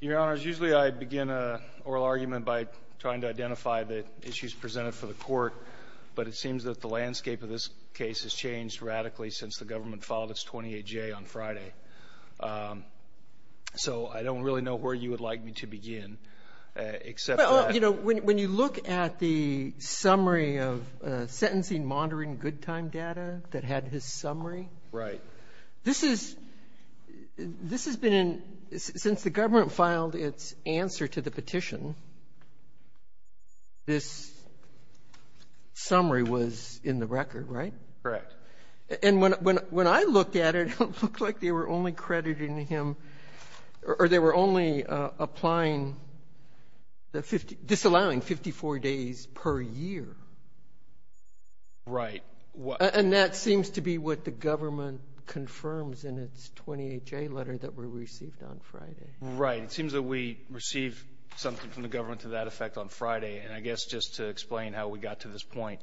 Your Honor, usually I begin an oral argument by trying to identify the issues presented for the court, but it seems that the landscape of this case has changed radically since the government filed its 28-J on Friday. So I don't really know where you would like me to begin, except that— Sotomayor Right. This is — this has been in — since the government filed its answer to the petition, this summary was in the record, right? Craig Correct. Sotomayor And when I looked at it, it looked like they were only crediting him — or they were only applying the 50 — disallowing 54 days per year. Craig Right. What — Sotomayor And that seems to be what the government confirms in its 28-J letter that were received on Friday. Craig Right. It seems that we received something from the government to that effect on Friday. And I guess just to explain how we got to this point,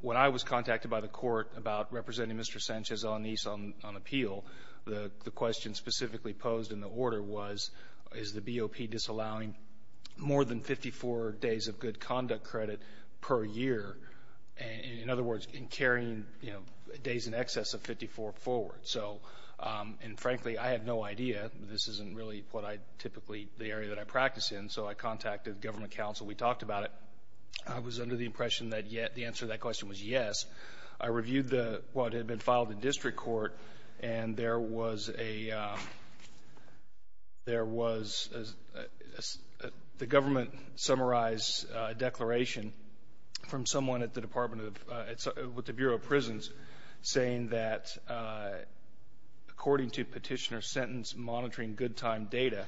when I was contacted by the court about representing Mr. Sanchez-Alanis on appeal, the question specifically posed in the order was, is the BOP disallowing more than 54 days of good conduct credit per year? In other words, in carrying, you know, days in excess of 54 forward. So — and frankly, I have no idea. This isn't really what I typically — the area that I practice in. So I contacted government counsel. We talked about it. I was under the impression that the answer to that question was yes. I reviewed the — what had been filed in district court. And there was a — there was a — the government summarized a declaration from someone at the Department of — with the Bureau of Prisons saying that, according to Petitioner's sentence monitoring good time data,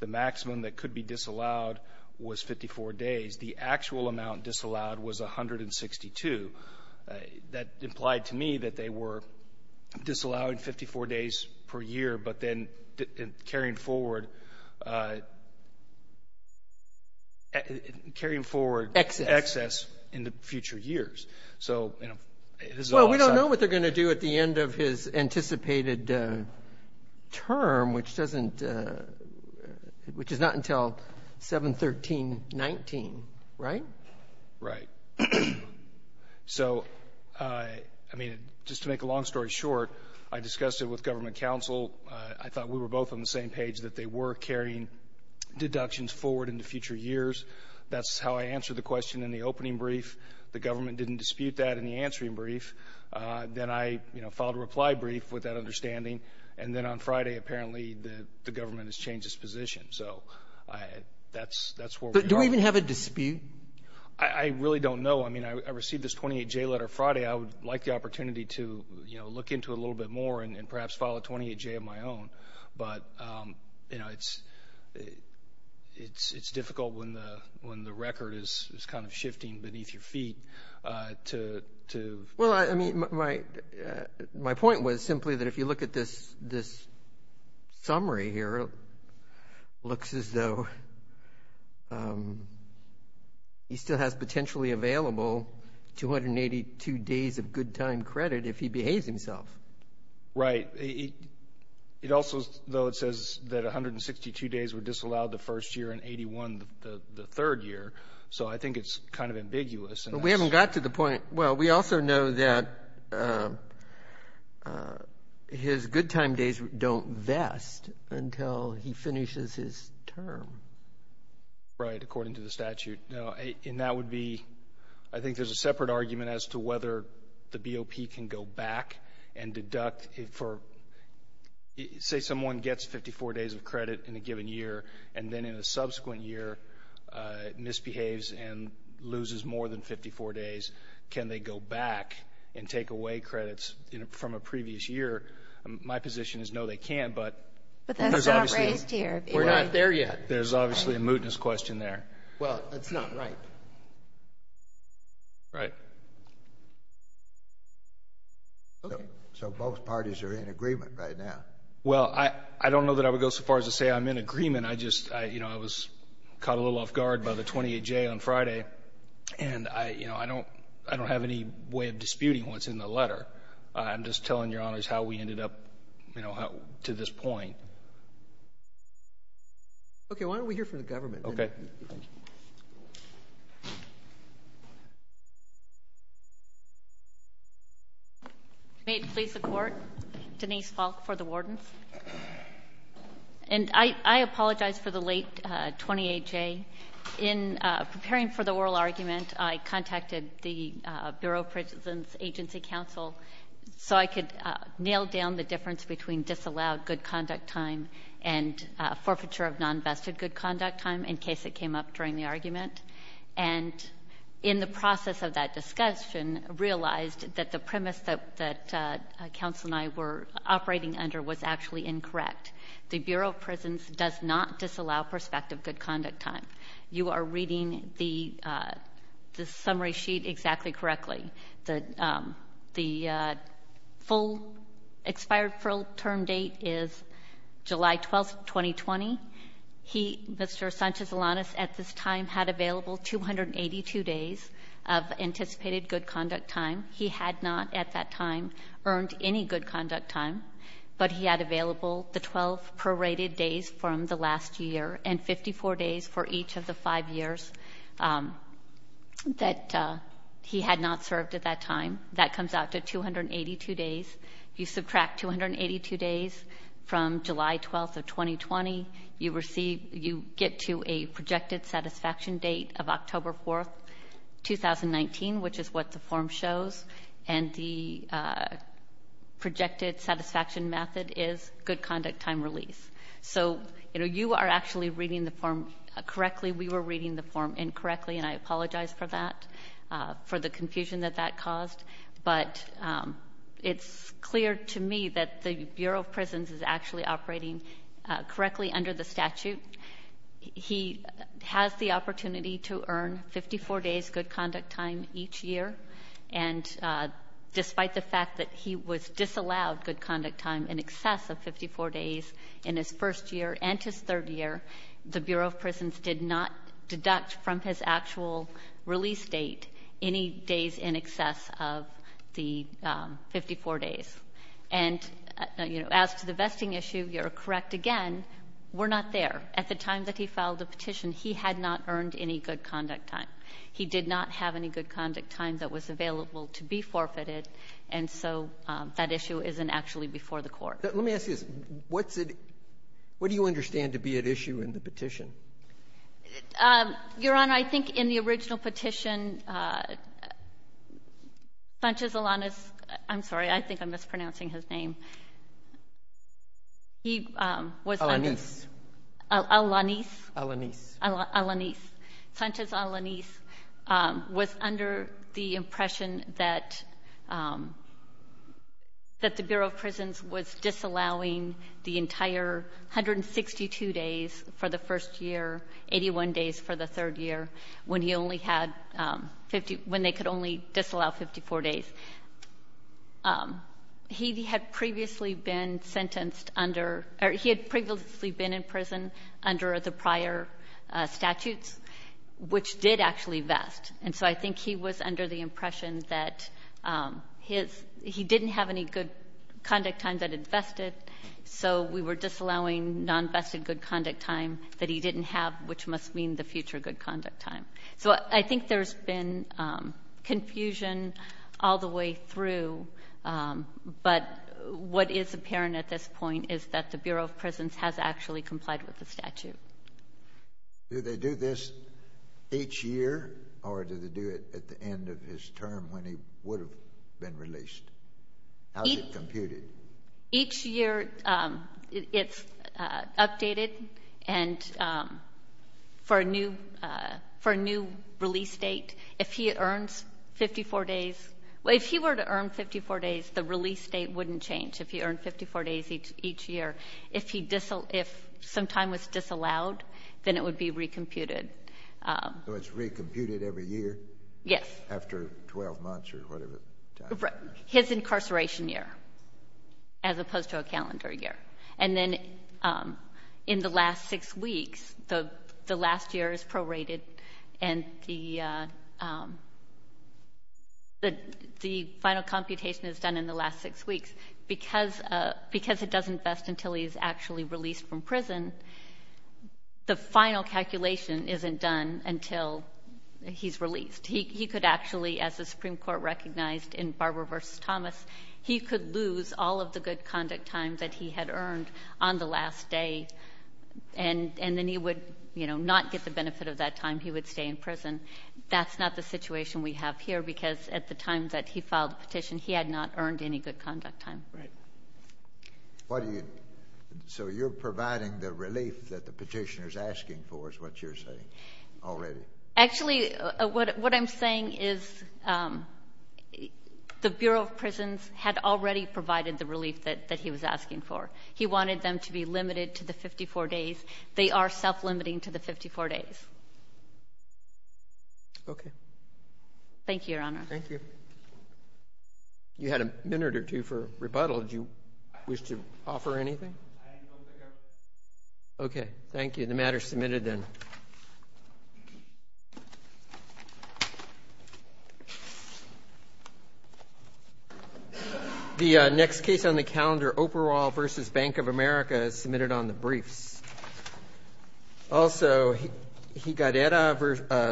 the maximum that could be disallowed was 54 days. The actual amount disallowed was 162. That implied to me that they were disallowing 54 days per year, but then carrying forward — carrying forward excess in the future years. So, you know, this is all outside of the — Well, we don't know what they're going to do at the end of his anticipated term, which doesn't — which is not until 7-13-19, right? Right. So, I mean, just to make a long story short, I discussed it with government counsel. I thought we were both on the same page, that they were carrying deductions forward into future years. That's how I answered the question in the opening brief. The government didn't dispute that in the answering brief. Then I, you know, filed a reply brief with that understanding. And then on Friday, apparently, the government has changed its position. So that's — that's where we are. But do we even have a dispute? I really don't know. I mean, I received this 28-J letter Friday. I would like the opportunity to, you know, look into it a little bit more and perhaps file a 28-J of my own, but, you know, it's — it's difficult when the — when the record is kind of shifting beneath your feet to — Well, I mean, my — my point was simply that if you look at this — this summary here, it looks as though he still has potentially available 282 days of good-time credit if he behaves himself. Right. It also — though it says that 162 days were disallowed the first year and 81 the third year, so I think it's kind of ambiguous. But we haven't got to the point — well, we also know that his good-time days don't vest until he finishes his term. Right. According to the statute. No. And that would be — I think there's a separate argument as to whether the BOP can go back and deduct for — say someone gets 54 days of credit in a given year, and then in a subsequent year misbehaves and loses more than 54 days, can they go back and take away credits from a previous year? My position is no, they can't, but — But that's not raised here. We're not there yet. There's obviously a mootness question there. Well, that's not right. Right. So both parties are in agreement right now. Well, I don't know that I would go so far as to say I'm in agreement. I just — you know, I was caught a little off-guard by the 28J on Friday, and I — you know, I don't — I don't have any way of disputing what's in the letter. I'm just telling Your Honors how we ended up, you know, to this point. Okay. Why don't we hear from the government? Okay. Thank you. May it please the Court, Denise Falk for the wardens. And I apologize for the late 28J. In preparing for the oral argument, I contacted the Bureau of Prisons Agency counsel so I could nail down the difference between disallowed good conduct time and forfeiture of non-vested good conduct time in case it came up during the argument. And in the process of that discussion, realized that the premise that counsel and I were arguing was actually incorrect. The Bureau of Prisons does not disallow prospective good conduct time. You are reading the summary sheet exactly correctly. The full — expired full term date is July 12th, 2020. He — Mr. Sanchez-Alanis at this time had available 282 days of anticipated good conduct time. He had not at that time earned any good conduct time, but he had available the 12 prorated days from the last year and 54 days for each of the five years that he had not served at that time. That comes out to 282 days. You subtract 282 days from July 12th of 2020. You receive — you get to a projected satisfaction date of October 4th, 2019, which is what the statute requires. And the projected satisfaction method is good conduct time release. So, you know, you are actually reading the form correctly. We were reading the form incorrectly, and I apologize for that, for the confusion that that caused. But it's clear to me that the Bureau of Prisons is actually operating correctly under the statute. He has the opportunity to earn 54 days good conduct time each year. And despite the fact that he was disallowed good conduct time in excess of 54 days in his first year and his third year, the Bureau of Prisons did not deduct from his actual release date any days in excess of the 54 days. And, you know, as to the vesting issue, you're correct again. We're not there. At the time that he filed the petition, he had not earned any good conduct time. He did not have any good conduct time that was available to be forfeited, and so that issue isn't actually before the Court. Let me ask you this. What's it — what do you understand to be at issue in the petition? Your Honor, I think in the original petition, Bunch's, Alana's — I'm sorry. I think I'm mispronouncing his name. He was — Alaniz. Alaniz? Alaniz. Alaniz. Sanchez Alaniz was under the impression that — that the Bureau of Prisons was disallowing the entire 162 days for the first year, 81 days for the third year, when he only had 54 days, when they could only disallow 54 days. He had previously been sentenced under — or he had previously been in prison under the prior statutes, which did actually vest. And so I think he was under the impression that his — he didn't have any good conduct time that had vested, so we were disallowing non-vested good conduct time that he didn't have, which must mean the future good conduct time. So I think there's been confusion all the way through, but what is apparent at this point is that the Bureau of Prisons has actually complied with the statute. Do they do this each year or do they do it at the end of his term when he would have How is it computed? Each year it's updated, and for a new — for a new release date, if he earns 54 days — well, if he were to earn 54 days, the release date wouldn't change, if he earned 54 days each year. If he — if some time was disallowed, then it would be recomputed. So it's recomputed every year? Yes. After 12 months or whatever time? His incarceration year, as opposed to a calendar year. And then in the last six weeks, the last year is prorated, and the final computation is done in the last six weeks. Because it doesn't vest until he's actually released from prison, the final calculation isn't done until he's released. He could actually, as the Supreme Court recognized in Barber v. Thomas, he could lose all of the good conduct time that he had earned on the last day, and then he would, you know, not get the benefit of that time. He would stay in prison. That's not the situation we have here, because at the time that he filed the petition, he had not earned any good conduct time. Right. Why do you — so you're providing the relief that the petitioner is asking for, is what you're saying, already? Actually, what I'm saying is, the Bureau of Prisons had already provided the relief that he was asking for. He wanted them to be limited to the 54 days. They are self-limiting to the 54 days. Okay. Thank you, Your Honor. Thank you. You had a minute or two for rebuttal. Do you wish to offer anything? I don't think I've — Okay. Thank you. Okay. I'll get the matter submitted, then. The next case on the calendar, Operol v. Bank of America, is submitted on the briefs. Also, Higuerera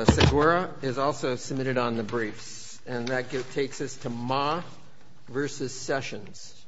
v. Segura is also submitted on the briefs. And that takes us to Ma v. Sessions.